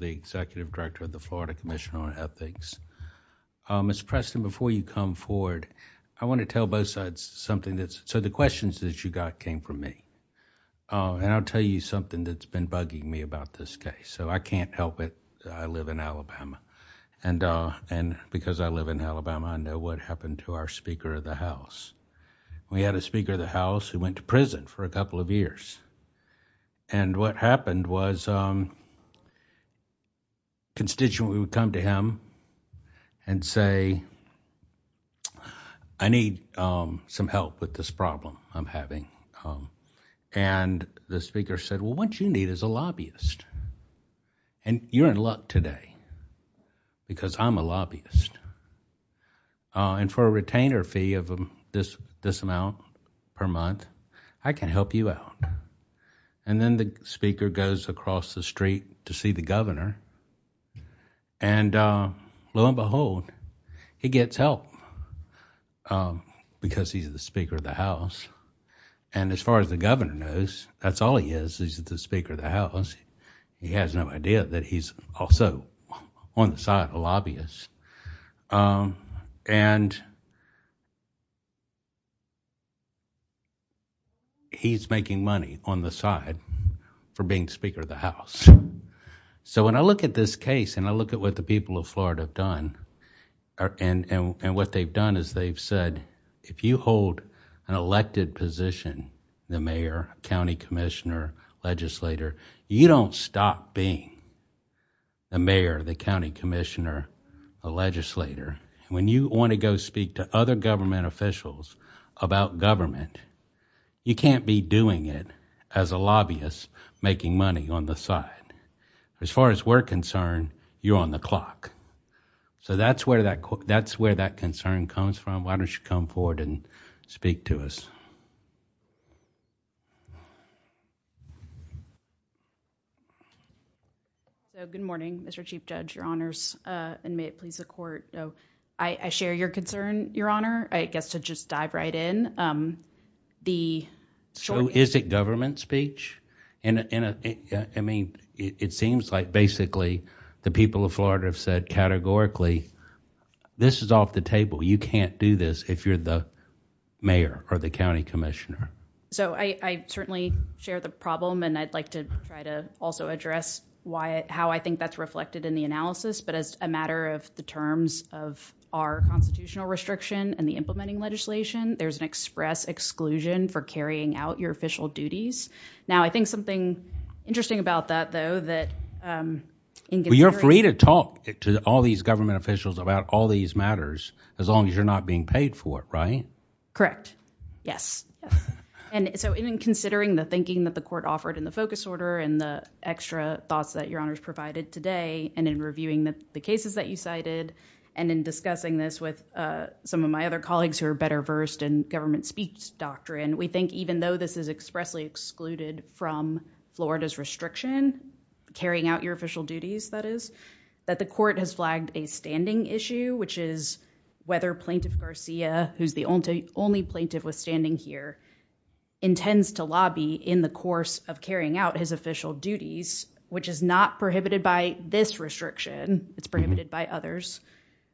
v. Executive Director, Florida Commission on Ethics, Appellants & Cross v. Executive Director, Cross v. Executive Director, Florida Commission on Ethics, Appellants & Cross v. Executive Director, Florida Commission on Ethics, Appellants & Cross v. Executive Director, Florida Commission We had a Speaker of the House who went to prison for a couple of years. What happened was a constituent would come to him and say, I need some help with this problem I'm having. The Speaker said, what you need is a lobbyist. You're in luck today because I'm a lobbyist. For a retainer fee of this amount per month, I can help you out. Then the Speaker goes across the street to see the Governor. Lo and behold, he gets help because he's the Speaker of the House. As far as the Governor knows, that's all he is. He's the Speaker of the House. He has no idea that he's also on the side of a lobbyist. He's making money on the side for being Speaker of the House. When I look at this case and I look at what the people of Florida have done, and what they've done is they've said, if you hold an elected position, you don't stop being the Mayor, the County Commissioner, the Legislator. When you want to go speak to other government officials about government, you can't be doing it as a lobbyist making money on the side. As far as we're concerned, you're on the clock. That's where that concern comes from. Why don't you come forward and speak to us? Good morning, Mr. Chief Judge, Your Honors, and may it please the Court. I share your concern, Your Honor, I guess to just dive right in. Is it government speech? It seems like basically the people of Florida have said categorically, this is off the table, you can't do this if you're the Mayor or the County Commissioner. I certainly share the problem, and I'd like to try to also address how I think that's reflected in the analysis, but as a matter of the terms of our constitutional restriction and the implementing legislation, there's an express exclusion for carrying out your official duties. Now, I think something interesting about that, though, that... You're free to talk to all these government officials about all these matters, as long as you're not being paid for it, right? Correct. Yes. In considering the thinking that the Court offered in the focus order and the extra thoughts that Your Honors provided today, and in reviewing the cases that you cited, and in discussing this with some of my other colleagues who are better versed in government speech doctrine, we think even though this is expressly excluded from Florida's restriction, carrying out your official duties, that is, that the Court has flagged a standing issue, which is whether Plaintiff Garcia, who's the only plaintiff withstanding here, intends to lobby in the course of carrying out his official duties, which is not prohibited by this restriction, it's prohibited by others,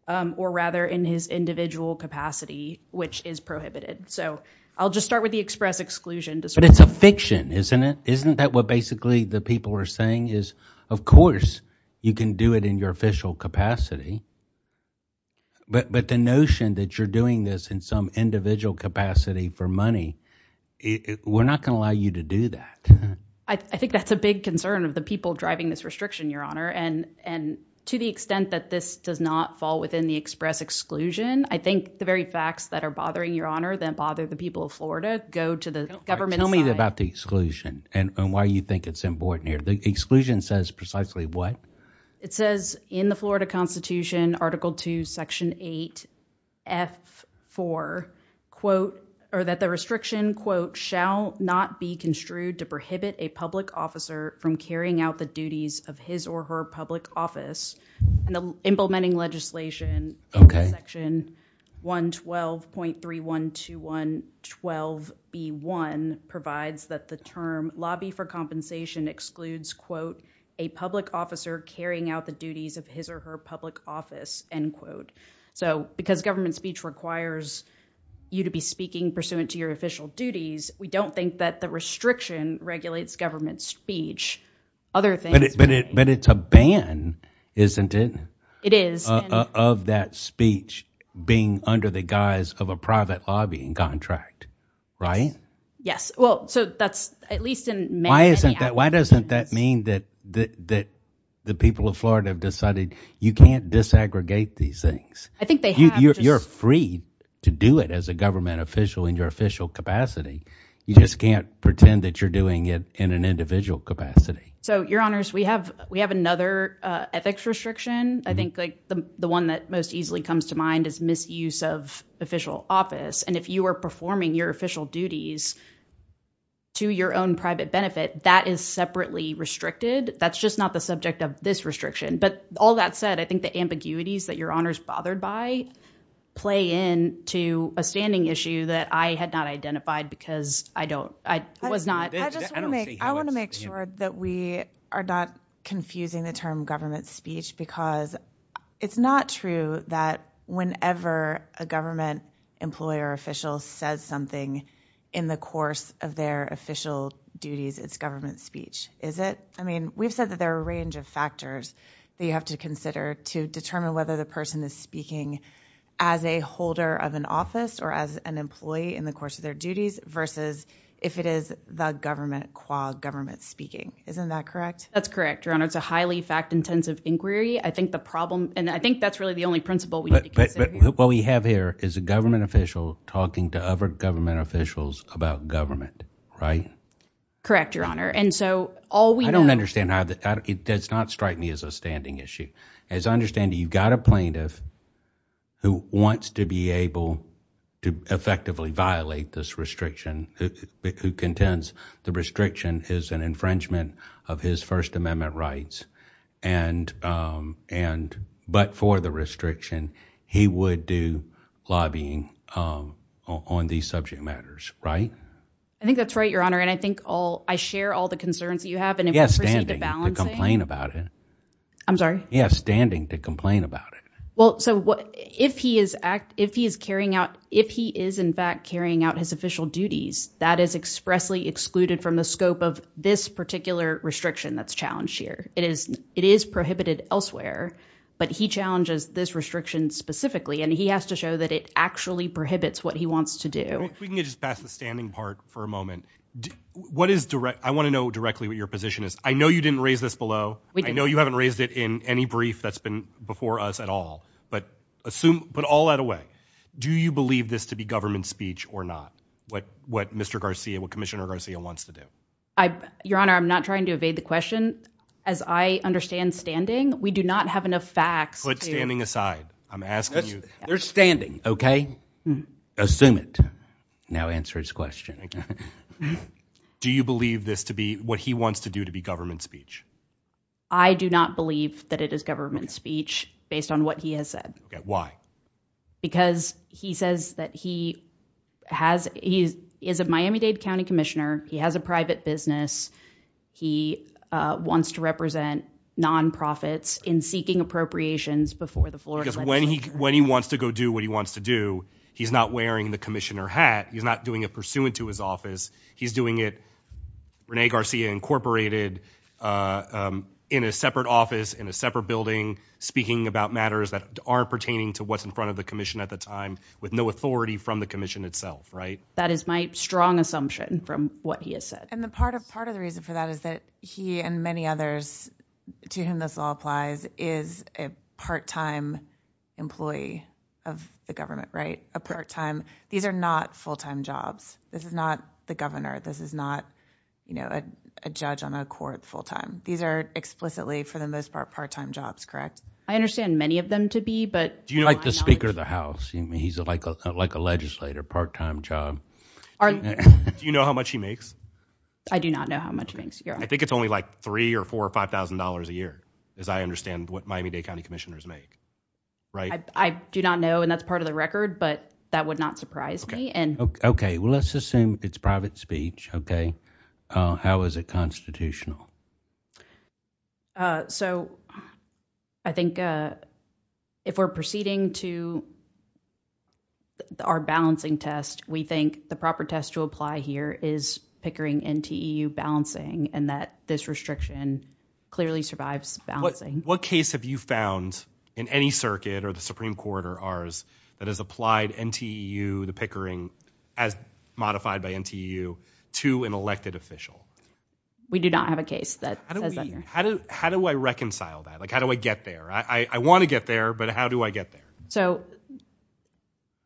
or rather in his individual capacity, which is prohibited. So I'll just start with the express exclusion... But it's a fiction, isn't it? Isn't that what basically the people are saying is, of course you can do it in your official capacity, but the notion that you're doing this in some individual capacity for money, we're not going to allow you to do that. I think that's a big concern of the people driving this restriction, Your Honor, and to the extent that this does not fall within the express exclusion, I think the very facts that are bothering Your Honor, that bother the people of Florida, go to the government... Tell me about the exclusion and why you think it's important here. The exclusion says precisely what? It says in the Florida Constitution, Article II, Section 8, F4, that the restriction, quote, shall not be construed to prohibit a public officer from carrying out the duties of his or her public office. Implementing legislation, Section 112.312112B1 provides that the term lobby for compensation excludes, quote, a public officer carrying out the duties of his or her public office, end quote. So because government speech requires you to be speaking pursuant to your official duties, we don't think that the restriction regulates government speech. But it's a ban, isn't it? It is. Of that speech being under the guise of a private lobbying contract, right? Yes. Well, so that's at least in many... Why doesn't that mean that the people of Florida have decided you can't disaggregate these things? I think they have. You're free to do it as a government official in your official capacity. You just can't pretend that you're doing it in an individual capacity. So, Your Honors, we have another ethics restriction. I think the one that most easily comes to mind is misuse of official office. And if you are performing your official duties to your own private benefit, that is separately restricted. That's just not the subject of this restriction. But all that said, I think the ambiguities that Your Honors bothered by play into a standing issue that I had not identified because I was not... I want to make sure that we are not confusing the term government speech because it's not true that whenever a government employer official says something in the course of their official duties, it's government speech, is it? I mean, we've said that there are a range of factors that you have to consider to determine whether the person is speaking as a holder of an office or as an employee in the course of their duties versus if it is the government qua government speaking. Isn't that correct? That's correct, Your Honor. It's a highly fact-intensive inquiry. I think the problem... And I think that's really the only principle we need to consider here. But what we have here is a government official talking to other government officials about government, right? Correct, Your Honor. And so, all we know... It does not strike me as a standing issue. As I understand it, you've got a plaintiff who wants to be able to effectively violate this restriction, who contends the restriction is an infringement of his First Amendment rights, but for the restriction, he would do lobbying on these subject matters, right? I think that's right, Your Honor, and I think I share all the concerns that you have... He has standing to complain about it. I'm sorry? He has standing to complain about it. Well, so if he is carrying out... If he is, in fact, carrying out his official duties, that is expressly excluded from the scope of this particular restriction that's challenged here. It is prohibited elsewhere, but he challenges this restriction specifically, and he has to show that it actually prohibits what he wants to do. If we can just pass the standing part for a moment. I want to know directly what your position is. I know you didn't raise this below. We didn't. I know you haven't raised it in any brief that's been before us at all, but put all that away. Do you believe this to be government speech or not, what Commissioner Garcia wants to do? Your Honor, I'm not trying to evade the question. As I understand standing, we do not have enough facts to... Put standing aside. I'm asking you... There's standing, okay? Assume it. Now answer his question. Do you believe this to be what he wants to do to be government speech? I do not believe that it is government speech based on what he has said. Why? Because he says that he has... He is a Miami-Dade County Commissioner. He has a private business. He wants to represent nonprofits in seeking appropriations before the floor... Because when he wants to go do what he wants to do, he's not wearing the commissioner hat. He's not doing it pursuant to his office. He's doing it, Rene Garcia Incorporated, in a separate office, in a separate building, speaking about matters that are pertaining to what's in front of the commission at the time, with no authority from the commission itself, right? That is my strong assumption from what he has said. And part of the reason for that is that he and many others to whom this all applies is a part-time employee of the government, right? A part-time. These are not full-time jobs. This is not the governor. This is not, you know, a judge on a court full-time. These are explicitly, for the most part, part-time jobs, correct? I understand many of them to be, but... Do you like the Speaker of the House? He's like a legislator, part-time job. Do you know how much he makes? I do not know how much he makes. I think it's only like $3,000 or $4,000 or $5,000 a year, as I understand what Miami-Dade County Commissioners make, right? I do not know, and that's part of the record, but that would not surprise me. Okay. Well, let's assume it's private speech, okay? How is it constitutional? So I think if we're proceeding to our balancing test, we think the proper test to apply here is Pickering NTEU balancing and that this restriction clearly survives balancing. What case have you found in any circuit or the Supreme Court or ours that has applied NTEU, the Pickering, as modified by NTEU, to an elected official? We do not have a case that says that here. How do I reconcile that? Like, how do I get there? I want to get there, but how do I get there? So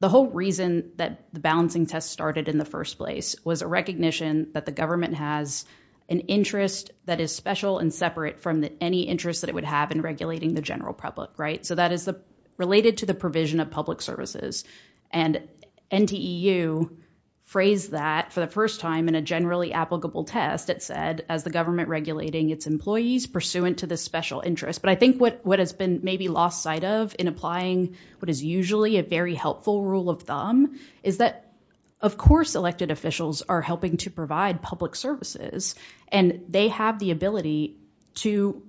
the whole reason that the balancing test started in the first place was a recognition that the government has an interest that is special and separate from any interest that it would have in regulating the general public, right? So that is related to the provision of public services. And NTEU phrased that for the first time in a generally applicable test. It said, as the government regulating its employees, pursuant to the special interest. But I think what has been maybe lost sight of in applying what is usually a very helpful rule of thumb is that, of course, elected officials are helping to provide public services, and they have the ability to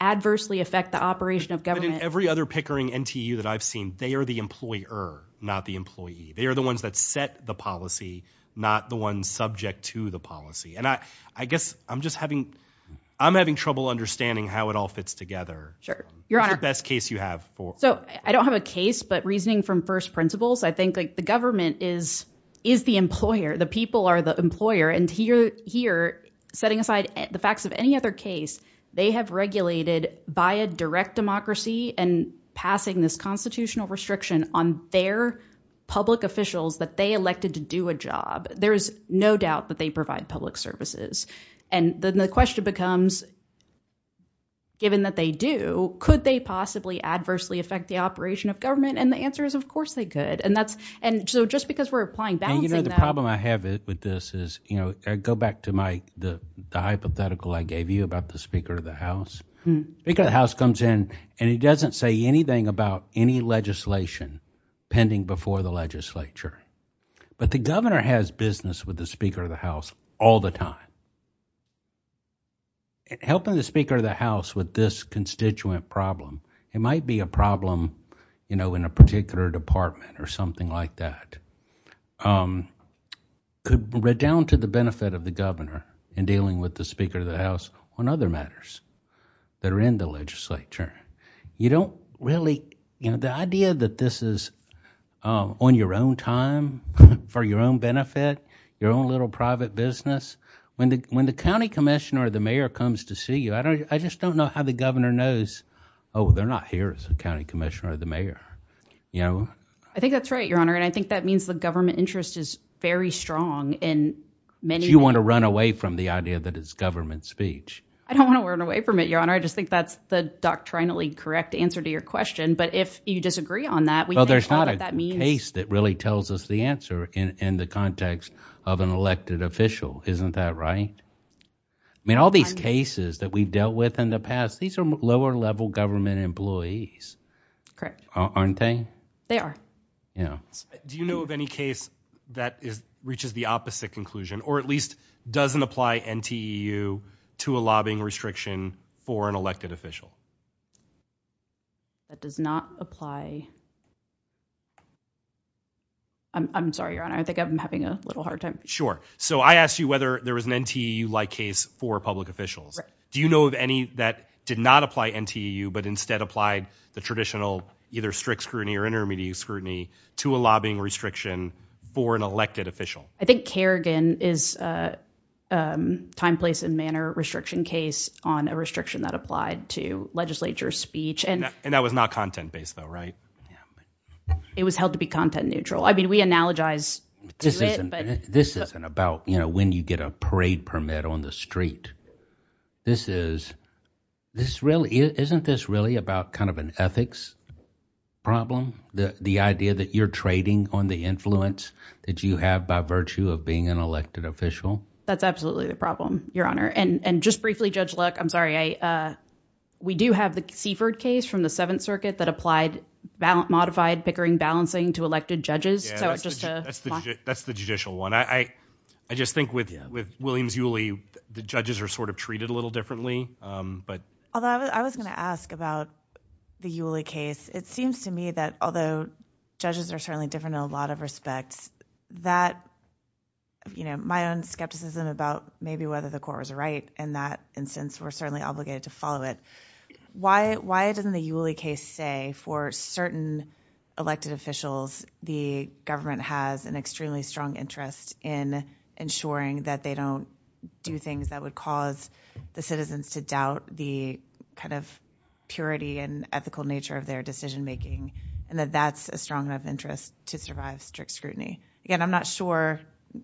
adversely affect the operation of government. But in every other Pickering NTEU that I've seen, they are the employer, not the employee. They are the ones that set the policy, not the ones subject to the policy. And I guess I'm just having – I'm having trouble understanding how it all fits together. Sure. Your Honor. What's the best case you have? So I don't have a case, but reasoning from first principles, I think the government is the employer. The people are the employer. And here, setting aside the facts of any other case, they have regulated, by a direct democracy and passing this constitutional restriction on their public officials that they elected to do a job. There is no doubt that they provide public services. And then the question becomes, given that they do, could they possibly adversely affect the operation of government? And the answer is, of course they could. And so just because we're applying – balancing that – go back to the hypothetical I gave you about the Speaker of the House. The Speaker of the House comes in and he doesn't say anything about any legislation pending before the legislature. But the governor has business with the Speaker of the House all the time. Helping the Speaker of the House with this constituent problem, it might be a problem in a particular department or something like that, could redound to the benefit of the governor in dealing with the Speaker of the House on other matters that are in the legislature. You don't really – the idea that this is on your own time, for your own benefit, your own little private business, when the county commissioner or the mayor comes to see you, I just don't know how the governor knows, oh, they're not here as a county commissioner or the mayor. I think that's right, Your Honor, and I think that means the government interest is very strong in many – So you want to run away from the idea that it's government speech? I don't want to run away from it, Your Honor. I just think that's the doctrinally correct answer to your question. But if you disagree on that, we can explain what that means. Well, there's not a case that really tells us the answer in the context of an elected official. Isn't that right? I mean, all these cases that we've dealt with in the past, these are lower-level government employees. Correct. Aren't they? They are. Yeah. Do you know of any case that reaches the opposite conclusion or at least doesn't apply NTEU to a lobbying restriction for an elected official? That does not apply – I'm sorry, Your Honor, I think I'm having a little hard time. Sure. So I asked you whether there was an NTEU-like case for public officials. Do you know of any that did not apply NTEU but instead applied the traditional either strict scrutiny or intermediate scrutiny to a lobbying restriction for an elected official? I think Kerrigan is a time, place, and manner restriction case on a restriction that applied to legislature speech. And that was not content-based, though, right? It was held to be content-neutral. I mean, we analogize to it. This isn't about when you get a parade permit on the street. Isn't this really about kind of an ethics problem, the idea that you're trading on the influence that you have by virtue of being an elected official? That's absolutely the problem, Your Honor. And just briefly, Judge Luck, I'm sorry, we do have the Seifert case from the Seventh Circuit that applied modified Pickering balancing to elected judges. That's the judicial one. I just think with Williams-Yulee, the judges are sort of treated a little differently. Although I was going to ask about the Yulee case, it seems to me that although judges are certainly different in a lot of respects, my own skepticism about maybe whether the court was right in that instance were certainly obligated to follow it. Why doesn't the Yulee case say for certain elected officials the government has an extremely strong interest in ensuring that they don't do things that would cause the citizens to doubt the kind of purity and ethical nature of their decision-making and that that's a strong enough interest to survive strict scrutiny? Again, I'm not sure,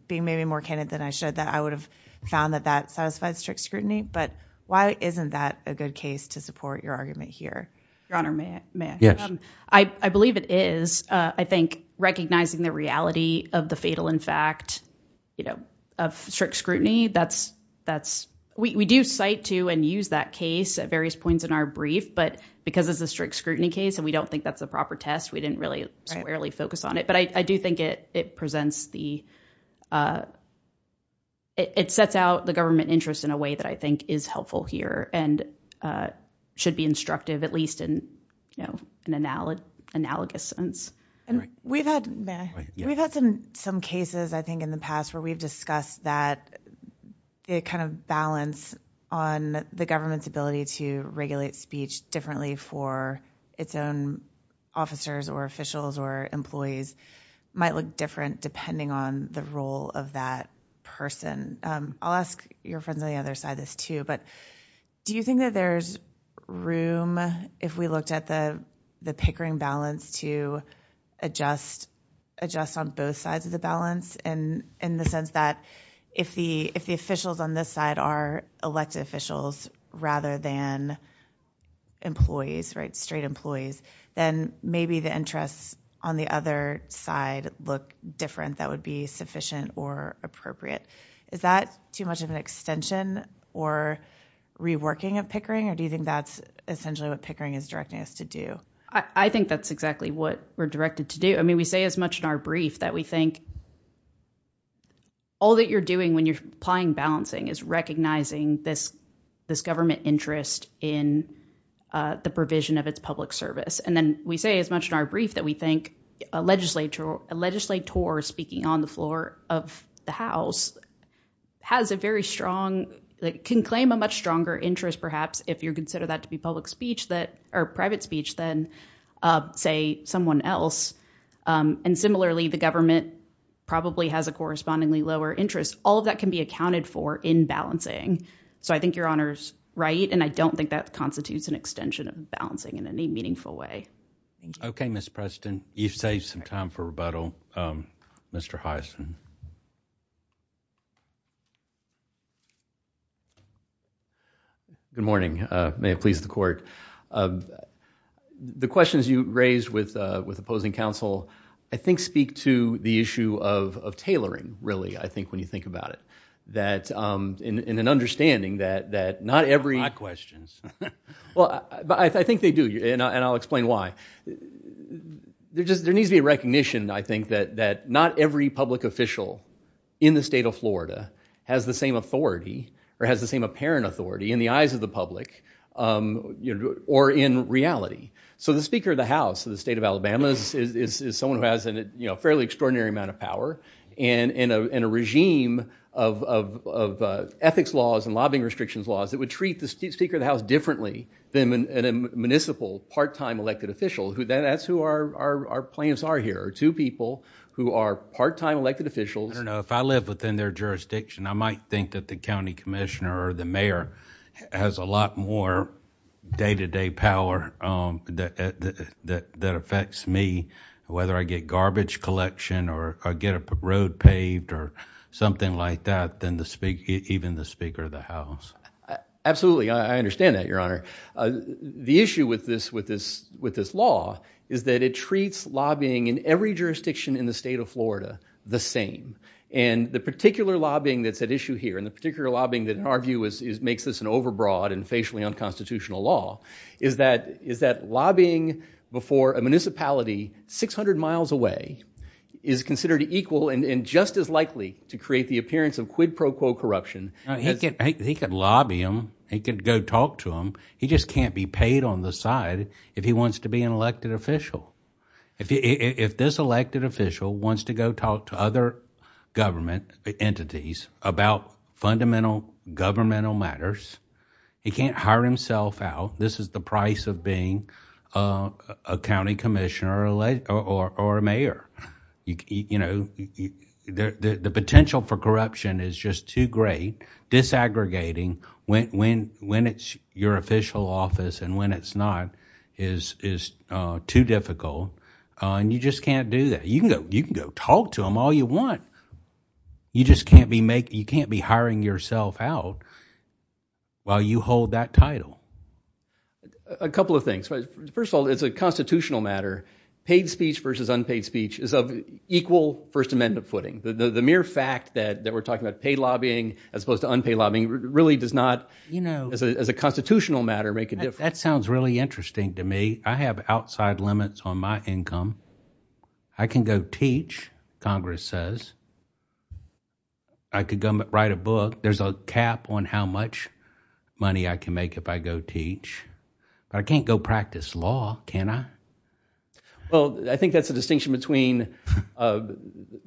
being maybe more candid than I should, that I would have found that that satisfies strict scrutiny, but why isn't that a good case to support your argument here? Your Honor, may I? Yes. I believe it is. I think recognizing the reality of the fatal in fact of strict scrutiny, we do cite to and use that case at various points in our brief, but because it's a strict scrutiny case and we don't think that's a proper test, we didn't really squarely focus on it. But I do think it sets out the government interest in a way that I think is helpful here and should be instructive at least in an analogous sense. We've had some cases I think in the past where we've discussed that the kind of balance on the government's ability to regulate speech differently for its own officers or officials or employees might look different depending on the role of that person. I'll ask your friends on the other side this too, but do you think that there's room, if we looked at the Pickering balance, to adjust on both sides of the balance in the sense that if the officials on this side are elected officials rather than employees, straight employees, then maybe the interests on the other side look different that would be sufficient or appropriate. Is that too much of an extension or reworking of Pickering or do you think that's essentially what Pickering is directing us to do? I think that's exactly what we're directed to do. I mean, we say as much in our brief that we think all that you're doing when you're applying balancing is recognizing this government interest in the provision of its public service. And then we say as much in our brief that we think a legislator speaking on the floor of the House has a very strong, can claim a much stronger interest perhaps if you consider that to be public speech or private speech than, say, someone else. And similarly, the government probably has a correspondingly lower interest. All of that can be accounted for in balancing. So I think your Honor's right, and I don't think that constitutes an extension of balancing in any meaningful way. Okay, Ms. Preston, you've saved some time for rebuttal. Mr. Hyson. Good morning. May it please the Court. The questions you raised with opposing counsel I think speak to the issue of tailoring, really, I think, when you think about it. That in an understanding that not every... Not my questions. Well, I think they do, and I'll explain why. There needs to be a recognition, I think, that not every public official in the state of Florida has the same authority or has the same apparent authority in the eyes of the public or in reality. So the Speaker of the House of the state of Alabama is someone who has a fairly extraordinary amount of power and a regime of ethics laws and lobbying restrictions laws that would treat the Speaker of the House differently than a municipal part-time elected official. That's who our plans are here, two people who are part-time elected officials. I don't know, if I live within their jurisdiction, I might think that the county commissioner or the mayor has a lot more day-to-day power that affects me, whether I get garbage collection or get a road paved or something like that, than even the Speaker of the House. Absolutely, I understand that, Your Honor. The issue with this law is that it treats lobbying in every jurisdiction in the state of Florida the same. And the particular lobbying that's at issue here and the particular lobbying that in our view makes this an overbroad and facially unconstitutional law is that lobbying before a municipality 600 miles away is considered equal and just as likely to create the appearance of quid pro quo corruption. He can lobby them, he can go talk to them, he just can't be paid on the side if he wants to be an elected official. If this elected official wants to go talk to other government entities about fundamental governmental matters, he can't hire himself out. This is the price of being a county commissioner or a mayor. The potential for corruption is just too great. Disaggregating when it's your official office and when it's not is too difficult and you just can't do that. You can go talk to them all you want, you just can't be hiring yourself out while you hold that title. A couple of things. First of all, it's a constitutional matter. Paid speech versus unpaid speech is of equal First Amendment footing. The mere fact that we're talking about paid lobbying as opposed to unpaid lobbying really does not, as a constitutional matter, make a difference. That sounds really interesting to me. I have outside limits on my income. I can go teach, Congress says. I could go write a book. There's a cap on how much money I can make if I go teach. I can't go practice law, can I? I think that's the distinction between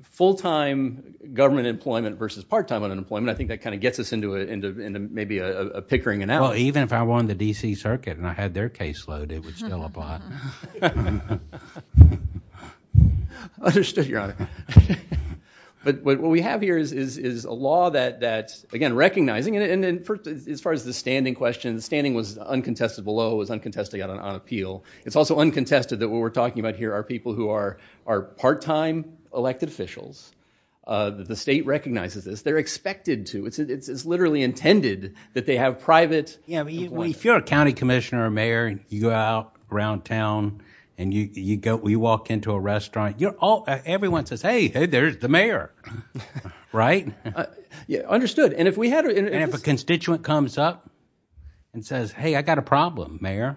full-time government employment versus part-time unemployment. I think that gets us into a pickering analysis. Even if I won the D.C. Circuit and I had their caseload, it would still apply. Understood, Your Honor. What we have here is a law that, again, recognizing it, as far as the standing question, the standing was uncontested below, was uncontested on appeal. It's also uncontested that what we're talking about here are people who are part-time elected officials. The state recognizes this. They're expected to. It's literally intended that they have private employment. If you're a county commissioner or mayor and you go out around town and you walk into a restaurant, everyone says, hey, there's the mayor, right? Understood. And if a constituent comes up and says, hey, I got a problem, mayor.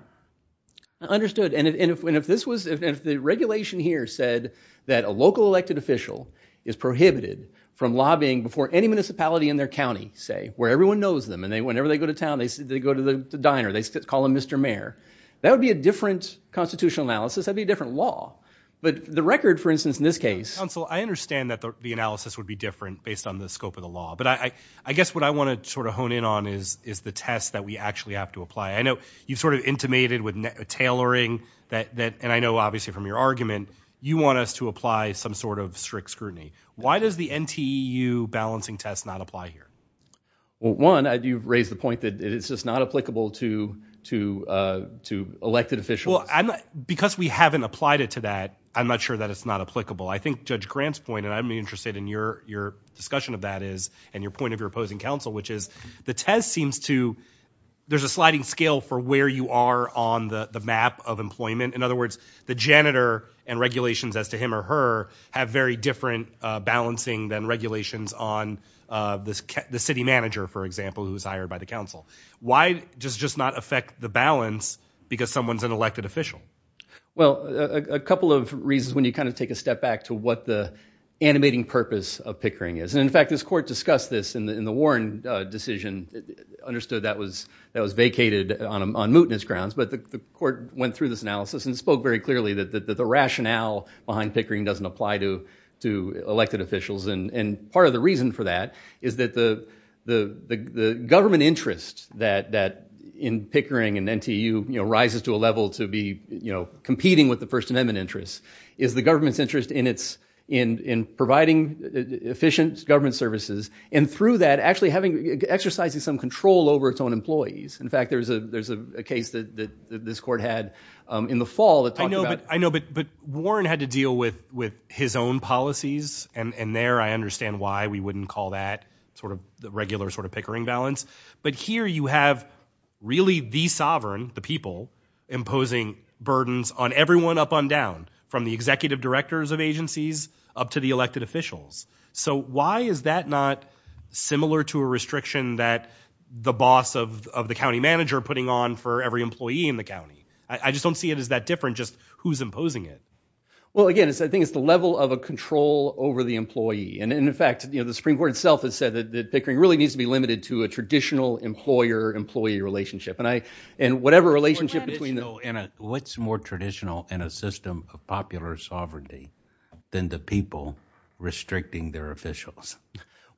And if the regulation here said that a local elected official is prohibited from lobbying before any municipality in their county, say, where everyone knows them, and whenever they go to town, they go to the diner. They call him Mr. Mayor. That would be a different constitutional analysis. That would be a different law. But the record, for instance, in this case... Counsel, I understand that the analysis would be different based on the scope of the law, but I guess what I want to sort of hone in on is the test that we actually have to apply. I know you've sort of intimated with tailoring, and I know, obviously, from your argument, you want us to apply some sort of strict scrutiny. Why does the NTEU balancing test not apply here? Well, one, you raise the point that it's just not applicable to elected officials. Because we haven't applied it to that, I'm not sure that it's not applicable. I think Judge Grant's point, and I'm interested in your discussion of that and your point of your opposing counsel, which is the test seems to... There's a sliding scale for where you are on the map of employment. In other words, the janitor and regulations as to him or her have very different balancing than regulations on the city manager, for example, who's hired by the council. Why does it just not affect the balance because someone's an elected official? Well, a couple of reasons when you kind of take a step back to what the animating purpose of Pickering is. And, in fact, this court discussed this in the Warren. The Warren decision understood that was vacated on mootness grounds. But the court went through this analysis and spoke very clearly that the rationale behind Pickering doesn't apply to elected officials. And part of the reason for that is that the government interest that in Pickering and NTEU rises to a level to be competing with the First Amendment interests is the government's interest in providing efficient government services. And through that, actually having, exercising some control over its own employees. In fact, there's a case that this court had in the fall that talked about... I know, but Warren had to deal with his own policies. And there I understand why we wouldn't call that sort of the regular sort of Pickering balance. But here you have really the sovereign, the people, imposing burdens on everyone up on down from the executive directors of agencies up to the elected officials. So why is that not similar to a restriction that the boss of the county manager putting on for every employee in the county? I just don't see it as that different, just who's imposing it. Well, again, I think it's the level of a control over the employee. And in fact, the Supreme Court itself has said that Pickering really needs to be limited to a traditional employer-employee relationship. And whatever relationship between the... What's more traditional in a system of popular sovereignty than the people restricting their officials?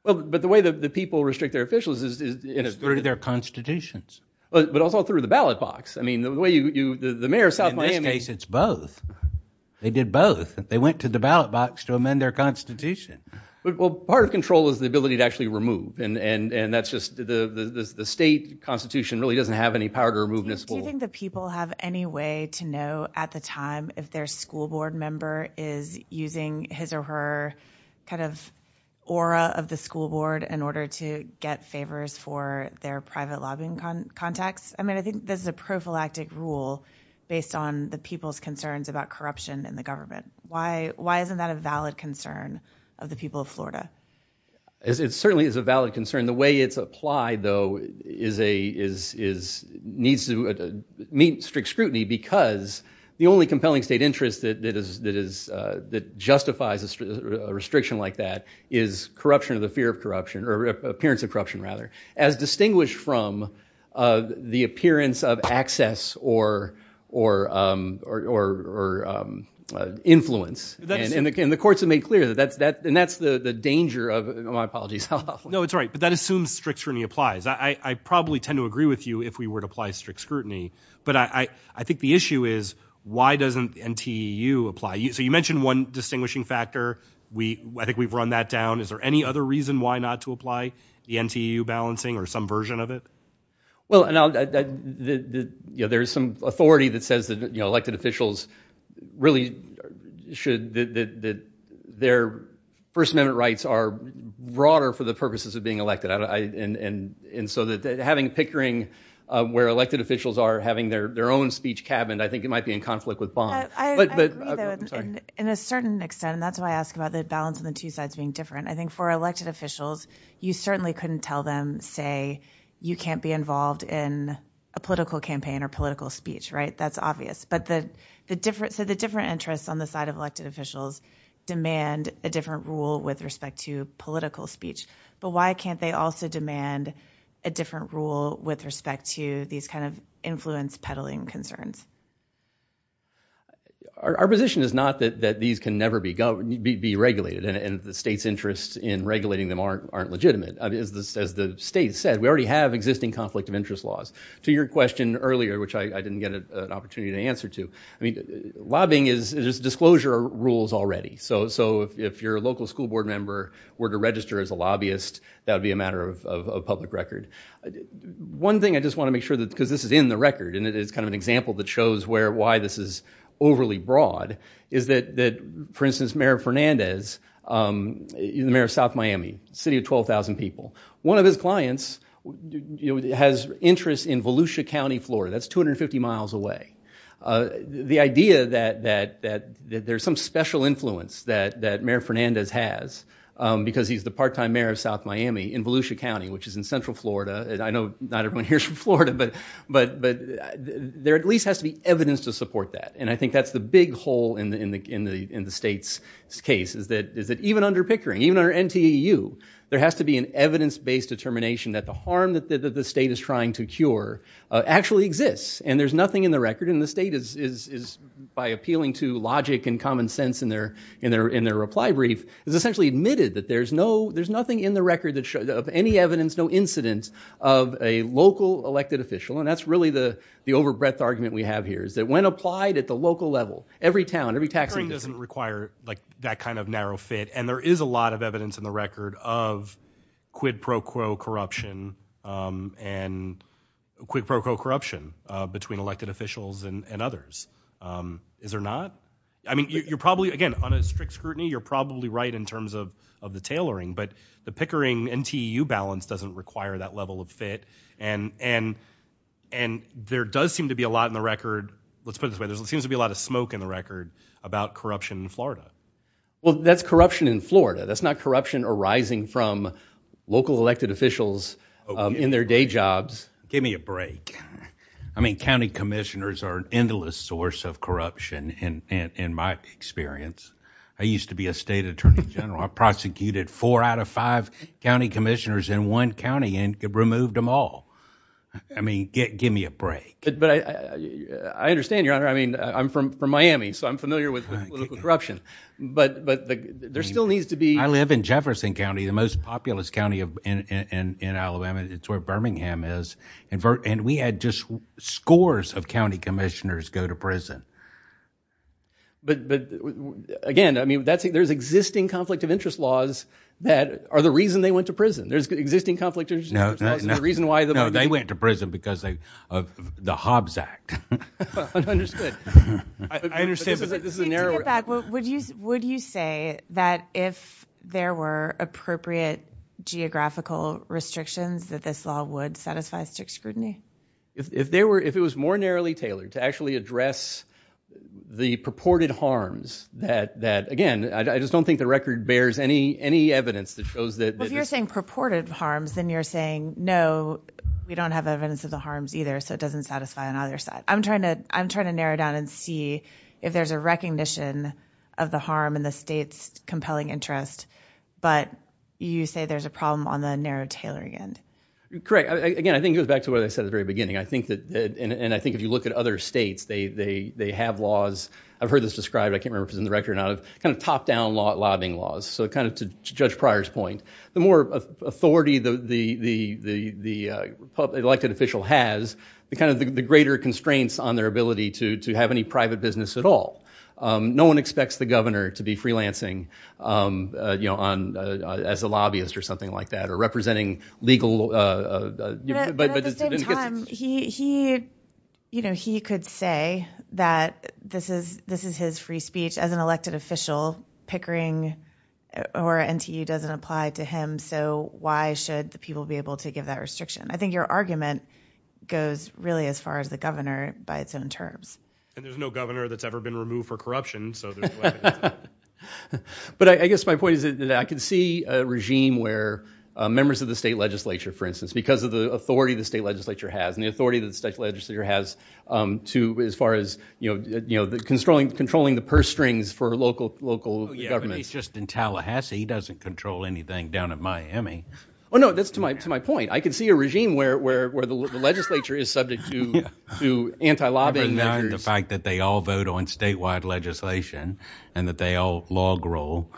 Well, but the way that the people restrict their officials is... It's through their constitutions. But also through the ballot box. I mean, the way you... The mayor of South Miami... In this case, it's both. They did both. They went to the ballot box to amend their constitution. Well, part of control is the ability to actually remove. And that's just... The state constitution really doesn't have any power to remove this whole... Do you think the people have any way to know at the time if their school board member is using his or her kind of aura of the school board in order to get favors for their private lobbying contacts? I mean, I think this is a prophylactic rule based on the people's concerns about corruption in the government. Why isn't that a valid concern of the people of Florida? It certainly is a valid concern. The way it's applied, though, is... Needs to meet strict scrutiny because the only compelling state interest that justifies a restriction like that is corruption of the fear of corruption, or appearance of corruption, rather, as distinguished from the appearance of access or influence. And the courts have made clear that. And that's the danger of... My apologies. No, it's all right. But that assumes strict scrutiny applies. I probably tend to agree with you if we were to apply strict scrutiny. But I think the issue is, why doesn't the NTEU apply? So you mentioned one distinguishing factor. I think we've run that down. Is there any other reason why not to apply the NTEU balancing or some version of it? Well, there's some authority that says that elected officials really should... That their First Amendment rights are broader for the purposes of being elected. And so having a pickering where elected officials are having their own speech cabin, I think it might be in conflict with bond. I agree, though, in a certain extent. And that's why I ask about the balance on the two sides being different. I think for elected officials, you certainly couldn't tell them, say, you can't be involved in a political campaign or political speech, right? That's obvious. But the different interests on the side of elected officials demand a different rule with respect to political speech. But why can't they also demand a different rule with respect to these kind of influence peddling concerns? Our position is not that these can never be regulated and the state's interests in regulating them aren't legitimate. As the state said, we already have existing conflict of interest laws. To your question earlier, which I didn't get an opportunity to answer to, I mean, lobbying is... There's disclosure rules already. So if your local school board member were to register as a lobbyist, that would be a matter of public record. One thing I just want to make sure that, because this is in the record and it's kind of an example that shows why this is overly broad, is that, for instance, Mayor Fernandez, the mayor of South Miami, city of 12,000 people, one of his clients has interest in Volusia County, Florida. That's 250 miles away. The idea that there's some special influence that Mayor Fernandez has because he's the part-time mayor of South Miami in Volusia County, which is in central Florida. I know not everyone here is from Florida, but there at least has to be evidence to support that. And I think that's the big hole in the state's case is that even under Pickering, even under NTEU, there has to be an evidence-based determination that the harm that the state is trying to cure actually exists. And there's nothing in the record. And the state is, by appealing to logic and common sense in their reply brief, has essentially admitted that there's nothing in the record of any evidence, no incident, of a local elected official. And that's really the over-breadth argument we have here, is that when applied at the local level, every town, every tax... Pickering doesn't require that kind of narrow fit. And there is a lot of evidence in the record of quid pro quo corruption and quid pro quo corruption between elected officials and others. Is there not? I mean, you're probably, again, on a strict scrutiny, you're probably right in terms of the tailoring, but the Pickering-NTEU balance doesn't require that level of fit. And there does seem to be a lot in the record, let's put it this way, there seems to be a lot of smoke in the record about corruption in Florida. Well, that's corruption in Florida. That's not corruption arising from local elected officials in their day jobs. Give me a break. I mean, county commissioners are an endless source of corruption, in my experience. I used to be a state attorney general. I prosecuted four out of five county commissioners in one county and removed them all. I mean, give me a break. But I understand, Your Honor. I mean, I'm from Miami, so I'm familiar with political corruption. But there still needs to be... I live in Jefferson County, the most populous county in Alabama. It's where Birmingham is. And we had just scores of county commissioners go to prison. But, again, I mean, there's existing conflict of interest laws that are the reason they went to prison. There's existing conflict of interest laws, and the reason why... No, they went to prison because of the Hobbes Act. Well, understood. I understand, but this is a narrow... To get back, would you say that if there were appropriate geographical restrictions, that this law would satisfy strict scrutiny? If it was more narrowly tailored to actually address the purported harms that... Again, I just don't think the record bears any evidence that shows that... Well, if you're saying purported harms, then you're saying, no, we don't have evidence of the harms either, so it doesn't satisfy on either side. I'm trying to narrow down and see if there's a recognition of the harm in the state's compelling interest, but you say there's a problem on the narrow, tailored end. Correct. Again, I think it goes back to what I said at the very beginning. I think if you look at other states, they have laws... I've heard this described, I can't remember if it was in the record or not, of top-down lobbying laws, so to Judge Pryor's point. The more authority the elected official has, the greater constraints on their ability to have any private business at all. No one expects the governor to be freelancing as a lobbyist or something like that, or representing legal... But at the same time, he could say that this is his free speech. As an elected official, Pickering or NTU doesn't apply to him, so why should the people be able to give that restriction? I think your argument goes really as far as the governor by its own terms. And there's no governor that's ever been removed for corruption, so there's no evidence of that. But I guess my point is that I can see a regime where members of the state legislature, for instance, because of the authority the state legislature has, and the authority the state legislature has as far as controlling the purse strings for local governments. Yeah, but he's just in Tallahassee. He doesn't control anything down at Miami. Well, no, that's to my point. I can see a regime where the legislature is subject to anti-lobbying measures. The fact that they all vote on statewide legislation and that they all log roll.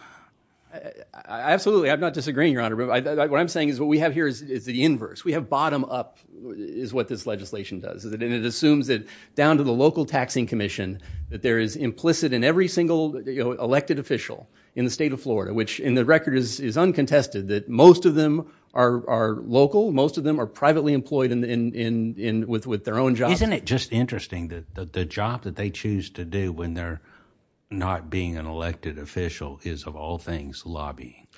Absolutely, I'm not disagreeing, Your Honor. What I'm saying is what we have here is the inverse. We have bottom-up is what this legislation does. And it assumes that down to the local taxing commission that there is implicit in every single elected official in the state of Florida, which in the record is uncontested, that most of them are local, most of them are privately employed with their own jobs. Isn't it just interesting that the job that they choose to do when they're not being an elected official is of all things lobby?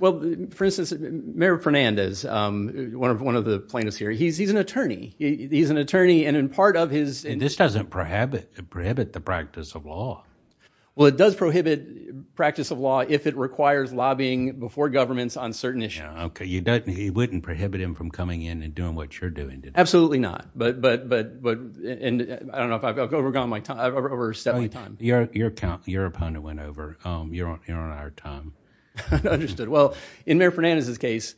Well, for instance, Mayor Fernandez, one of the plaintiffs here, he's an attorney. He's an attorney, and in part of his... This doesn't prohibit the practice of law. Well, it does prohibit practice of law if it requires lobbying before governments on certain issues. Okay, you wouldn't prohibit him from coming in and doing what you're doing, did you? Absolutely not. I don't know if I've overstepped my time. Your opponent went over. You're on our time. Understood. Well, in Mayor Fernandez's case,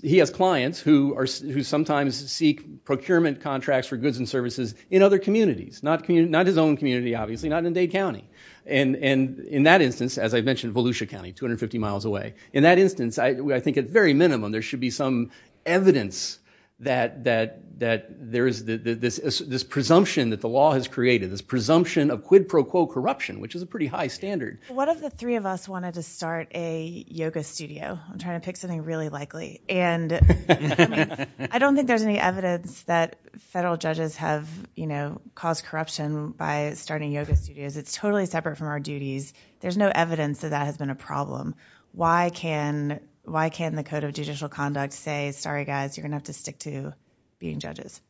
he has clients who sometimes seek procurement contracts for goods and services in other communities, not his own community, obviously, not in Dade County. And in that instance, as I mentioned, Volusia County, 250 miles away. In that instance, I think at very minimum, there should be some evidence that there is this presumption that the law has created, this presumption of quid pro quo corruption, which is a pretty high standard. What if the three of us wanted to start a yoga studio? I'm trying to pick something really likely. And I don't think there's any evidence that federal judges have caused corruption by starting yoga studios. It's totally separate from our duties. There's no evidence that that has been a problem. Why can the Code of Judicial Conduct say, sorry, guys, you're going to have to stick to being judges?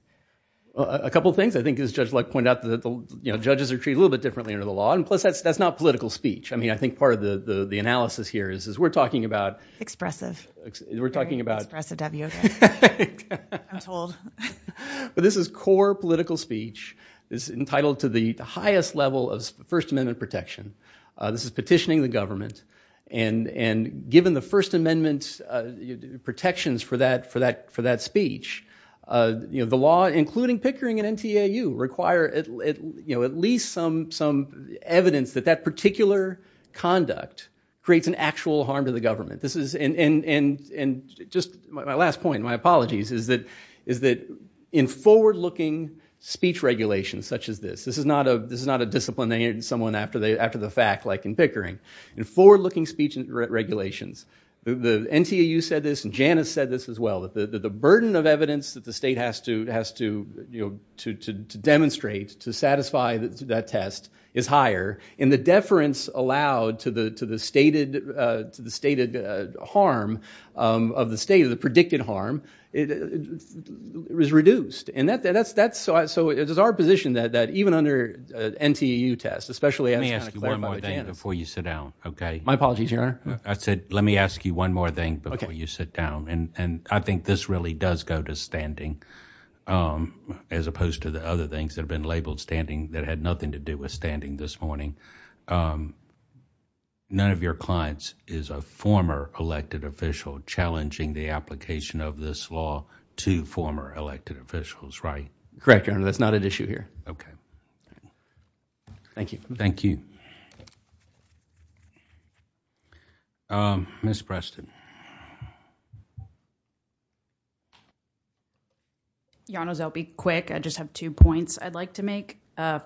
A couple of things. I think, as Judge Luck pointed out, judges are treated a little bit differently under the law. And plus, that's not political speech. I think part of the analysis here is we're talking about... Expressive. We're talking about... Expressive W. I'm told. But this is core political speech. It's entitled to the highest level of First Amendment protection. This is petitioning the government. And given the First Amendment protections for that speech, the law, including Pickering and NTAU, require at least some evidence that that particular conduct creates an actual harm to the government. And just my last point, my apologies, is that in forward-looking speech regulations such as this... This is not a disciplinary... Someone after the fact, like in Pickering. In forward-looking speech regulations, the NTAU said this and Janice said this as well, that the burden of evidence that the state has to demonstrate to satisfy that test is higher, and the deference allowed to the stated harm of the state, the predicted harm, is reduced. And that's... So it is our position that even under NTAU tests, especially... Let me ask you one more thing before you sit down, OK? My apologies, Your Honor. I said let me ask you one more thing before you sit down. And I think this really does go to standing as opposed to the other things that have been labeled standing that had nothing to do with standing this morning. None of your clients is a former elected official challenging the application of this law to former elected officials, right? Correct, Your Honor. That's not at issue here. OK. Thank you. Thank you. Ms. Preston. Your Honors, I'll be quick. I just have two points I'd like to make.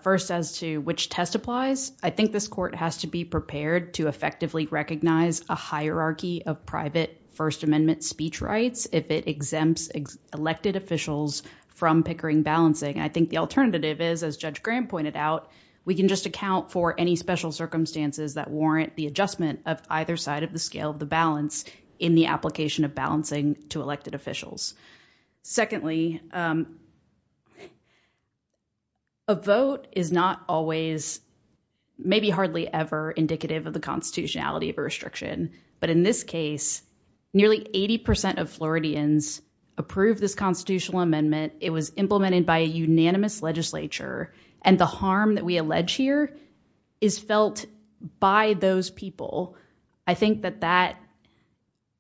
First as to which test applies, I think this court has to be prepared to effectively recognize a hierarchy of private First Amendment speech rights if it exempts elected officials from pickering balancing. I think the alternative is, as Judge Graham pointed out, we can just account for any special circumstances that warrant the adjustment of either side of the scale of the balance in the application of balancing to elected officials. Secondly, a vote is not always, maybe hardly ever indicative of the constitutionality of a restriction. But in this case, nearly 80% of Floridians approved this constitutional amendment. It was implemented by a unanimous legislature. And the harm that we allege here is felt by those people. I think that that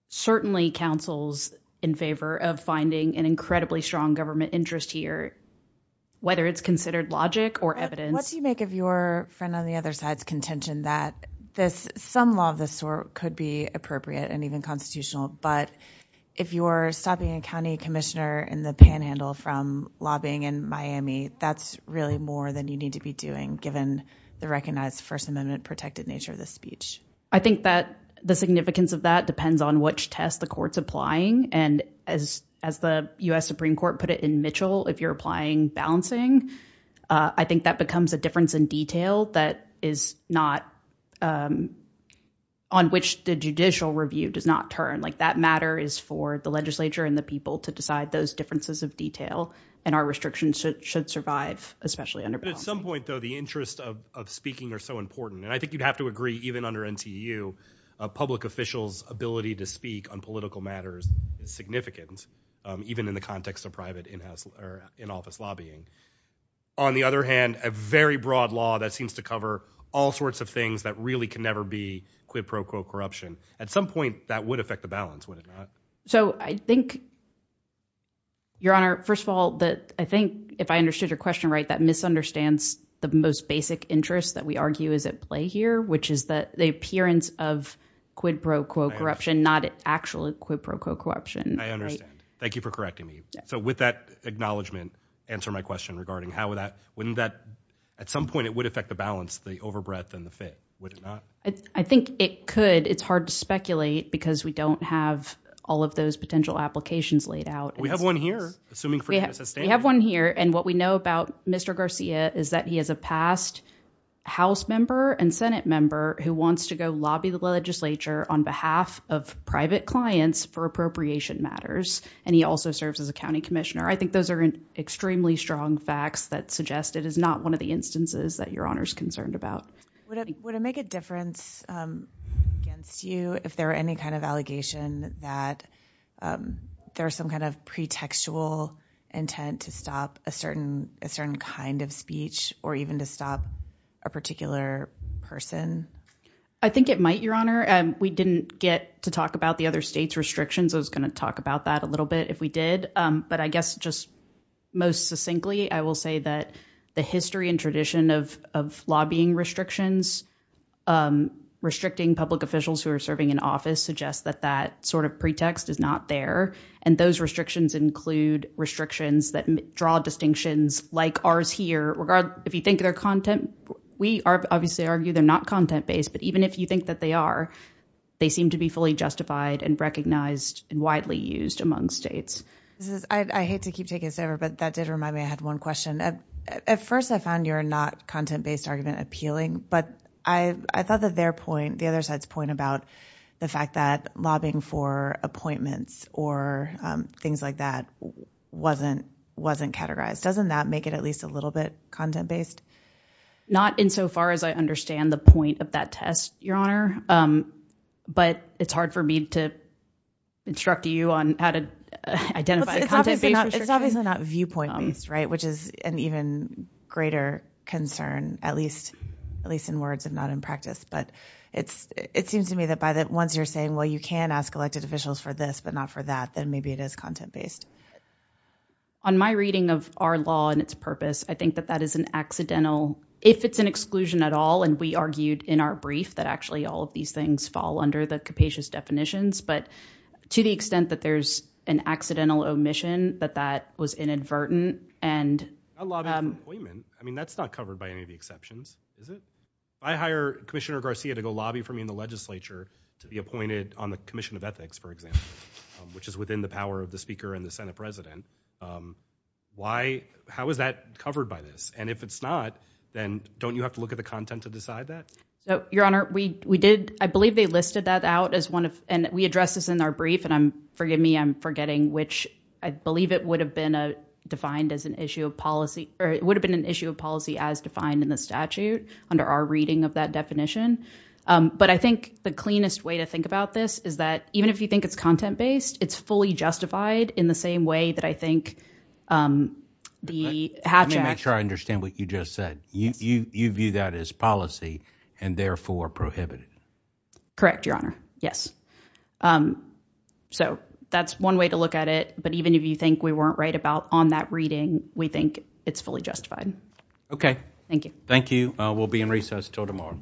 certainly counsels in favor of finding an incredibly strong government interest here, whether it's considered logic or evidence. What do you make of your friend on the other side's contention that some law of this sort could be appropriate and even constitutional, but if you're stopping a county commissioner in the panhandle from lobbying in Miami, that's really more than you need to be doing given the recognized First Amendment protected nature of this speech. I think that the significance of that depends on which test the court's applying. And as the U.S. Supreme Court put it in Mitchell, if you're applying balancing, I think that becomes a difference in detail that is not, on which the judicial review does not turn. Like that matter is for the legislature and the people to decide those differences of detail and our restrictions should survive, especially under balance. At some point though, the interests of speaking are so important. And I think you'd have to agree, even under NTU, public officials' ability to speak on political matters is significant, even in the context of private in-office lobbying. On the other hand, a very broad law that seems to cover all sorts of things that really can never be quid pro quo corruption, at some point that would affect the balance, would it not? So I think, Your Honor, first of all, I think if I understood your question right, that misunderstands the most basic interest that we argue is at play here, which is the appearance of quid pro quo corruption, not actual quid pro quo corruption. I understand. Thank you for correcting me. So with that acknowledgment, answer my question regarding how would that, wouldn't that, at some point it would affect the balance, the over breadth and the fit, would it not? I think it could. It's hard to speculate because we don't have all of those potential applications laid out. We have one here, assuming for justice. We have one here and what we know about Mr. Garcia is that he is a past house member and Senate member who wants to go lobby the legislature on behalf of private clients for appropriation matters and he also serves as a county commissioner. I think those are extremely strong facts that suggest it is not one of the instances that Your Honor's concerned about. Would it make a difference against you if there were any kind of allegation that there's some kind of pretextual intent to stop a certain kind of speech or even to stop a particular person? I think it might, Your Honor. We didn't get to talk about the other state's restrictions. I was going to talk about that a little bit if we did, but I guess just most succinctly I will say that the history and tradition of lobbying restrictions restricting public officials who are serving in office suggests that that sort of pretext is not there and those restrictions include restrictions that draw distinctions like ours here. If you think they're content, we obviously argue they're not content-based, but even if you think that they are, they seem to be fully justified and recognized and widely used among states. I hate to keep taking this over, but that did remind me I had one question. At first I found your not content-based argument appealing, but I thought the other side's point about the fact that lobbying for appointments or things like that wasn't categorized. Doesn't that make it at least a little bit content-based? Not insofar as I understand the point of that test, Your Honor, but it's hard for me to instruct you on how to identify content-based restrictions. It's obviously not viewpoint-based, which is an even greater concern, at least in words and not in practice, but it seems to me that once you're saying, well, you can ask elected officials for this, but not for that, then maybe it is content-based. On my reading of our law and its purpose, I think that that is an accidental, if it's an exclusion at all, and we argued in our brief that actually all of these things fall under the capacious definitions, but to the extent that there's an accidental omission, that that was inadvertent. I'm not lobbying for an appointment. I mean, that's not covered by any of the exceptions, is it? If I hire Commissioner Garcia to go lobby for me in the legislature to be appointed on the Commission of Ethics, for example, which is within the power of the Speaker and the Senate President, how is that covered by this? And if it's not, then don't you have to look at the content to decide that? Your Honor, we did. I believe they listed that out as one of, and we addressed this in our brief, and forgive me, I'm forgetting, which I believe it would have been defined as an issue of policy, or it would have been an issue of policy as defined in the statute under our reading of that definition, but I think the cleanest way to think about this is that even if you think it's content-based, it's fully justified in the same way that I think the hatchet... Let me make sure I understand what you just said. You view that as policy and therefore prohibit it. Correct, Your Honor, yes. So that's one way to look at it, but even if you think we weren't right about on that reading, we think it's fully justified. Okay. Thank you. Thank you. We'll be in recess until tomorrow.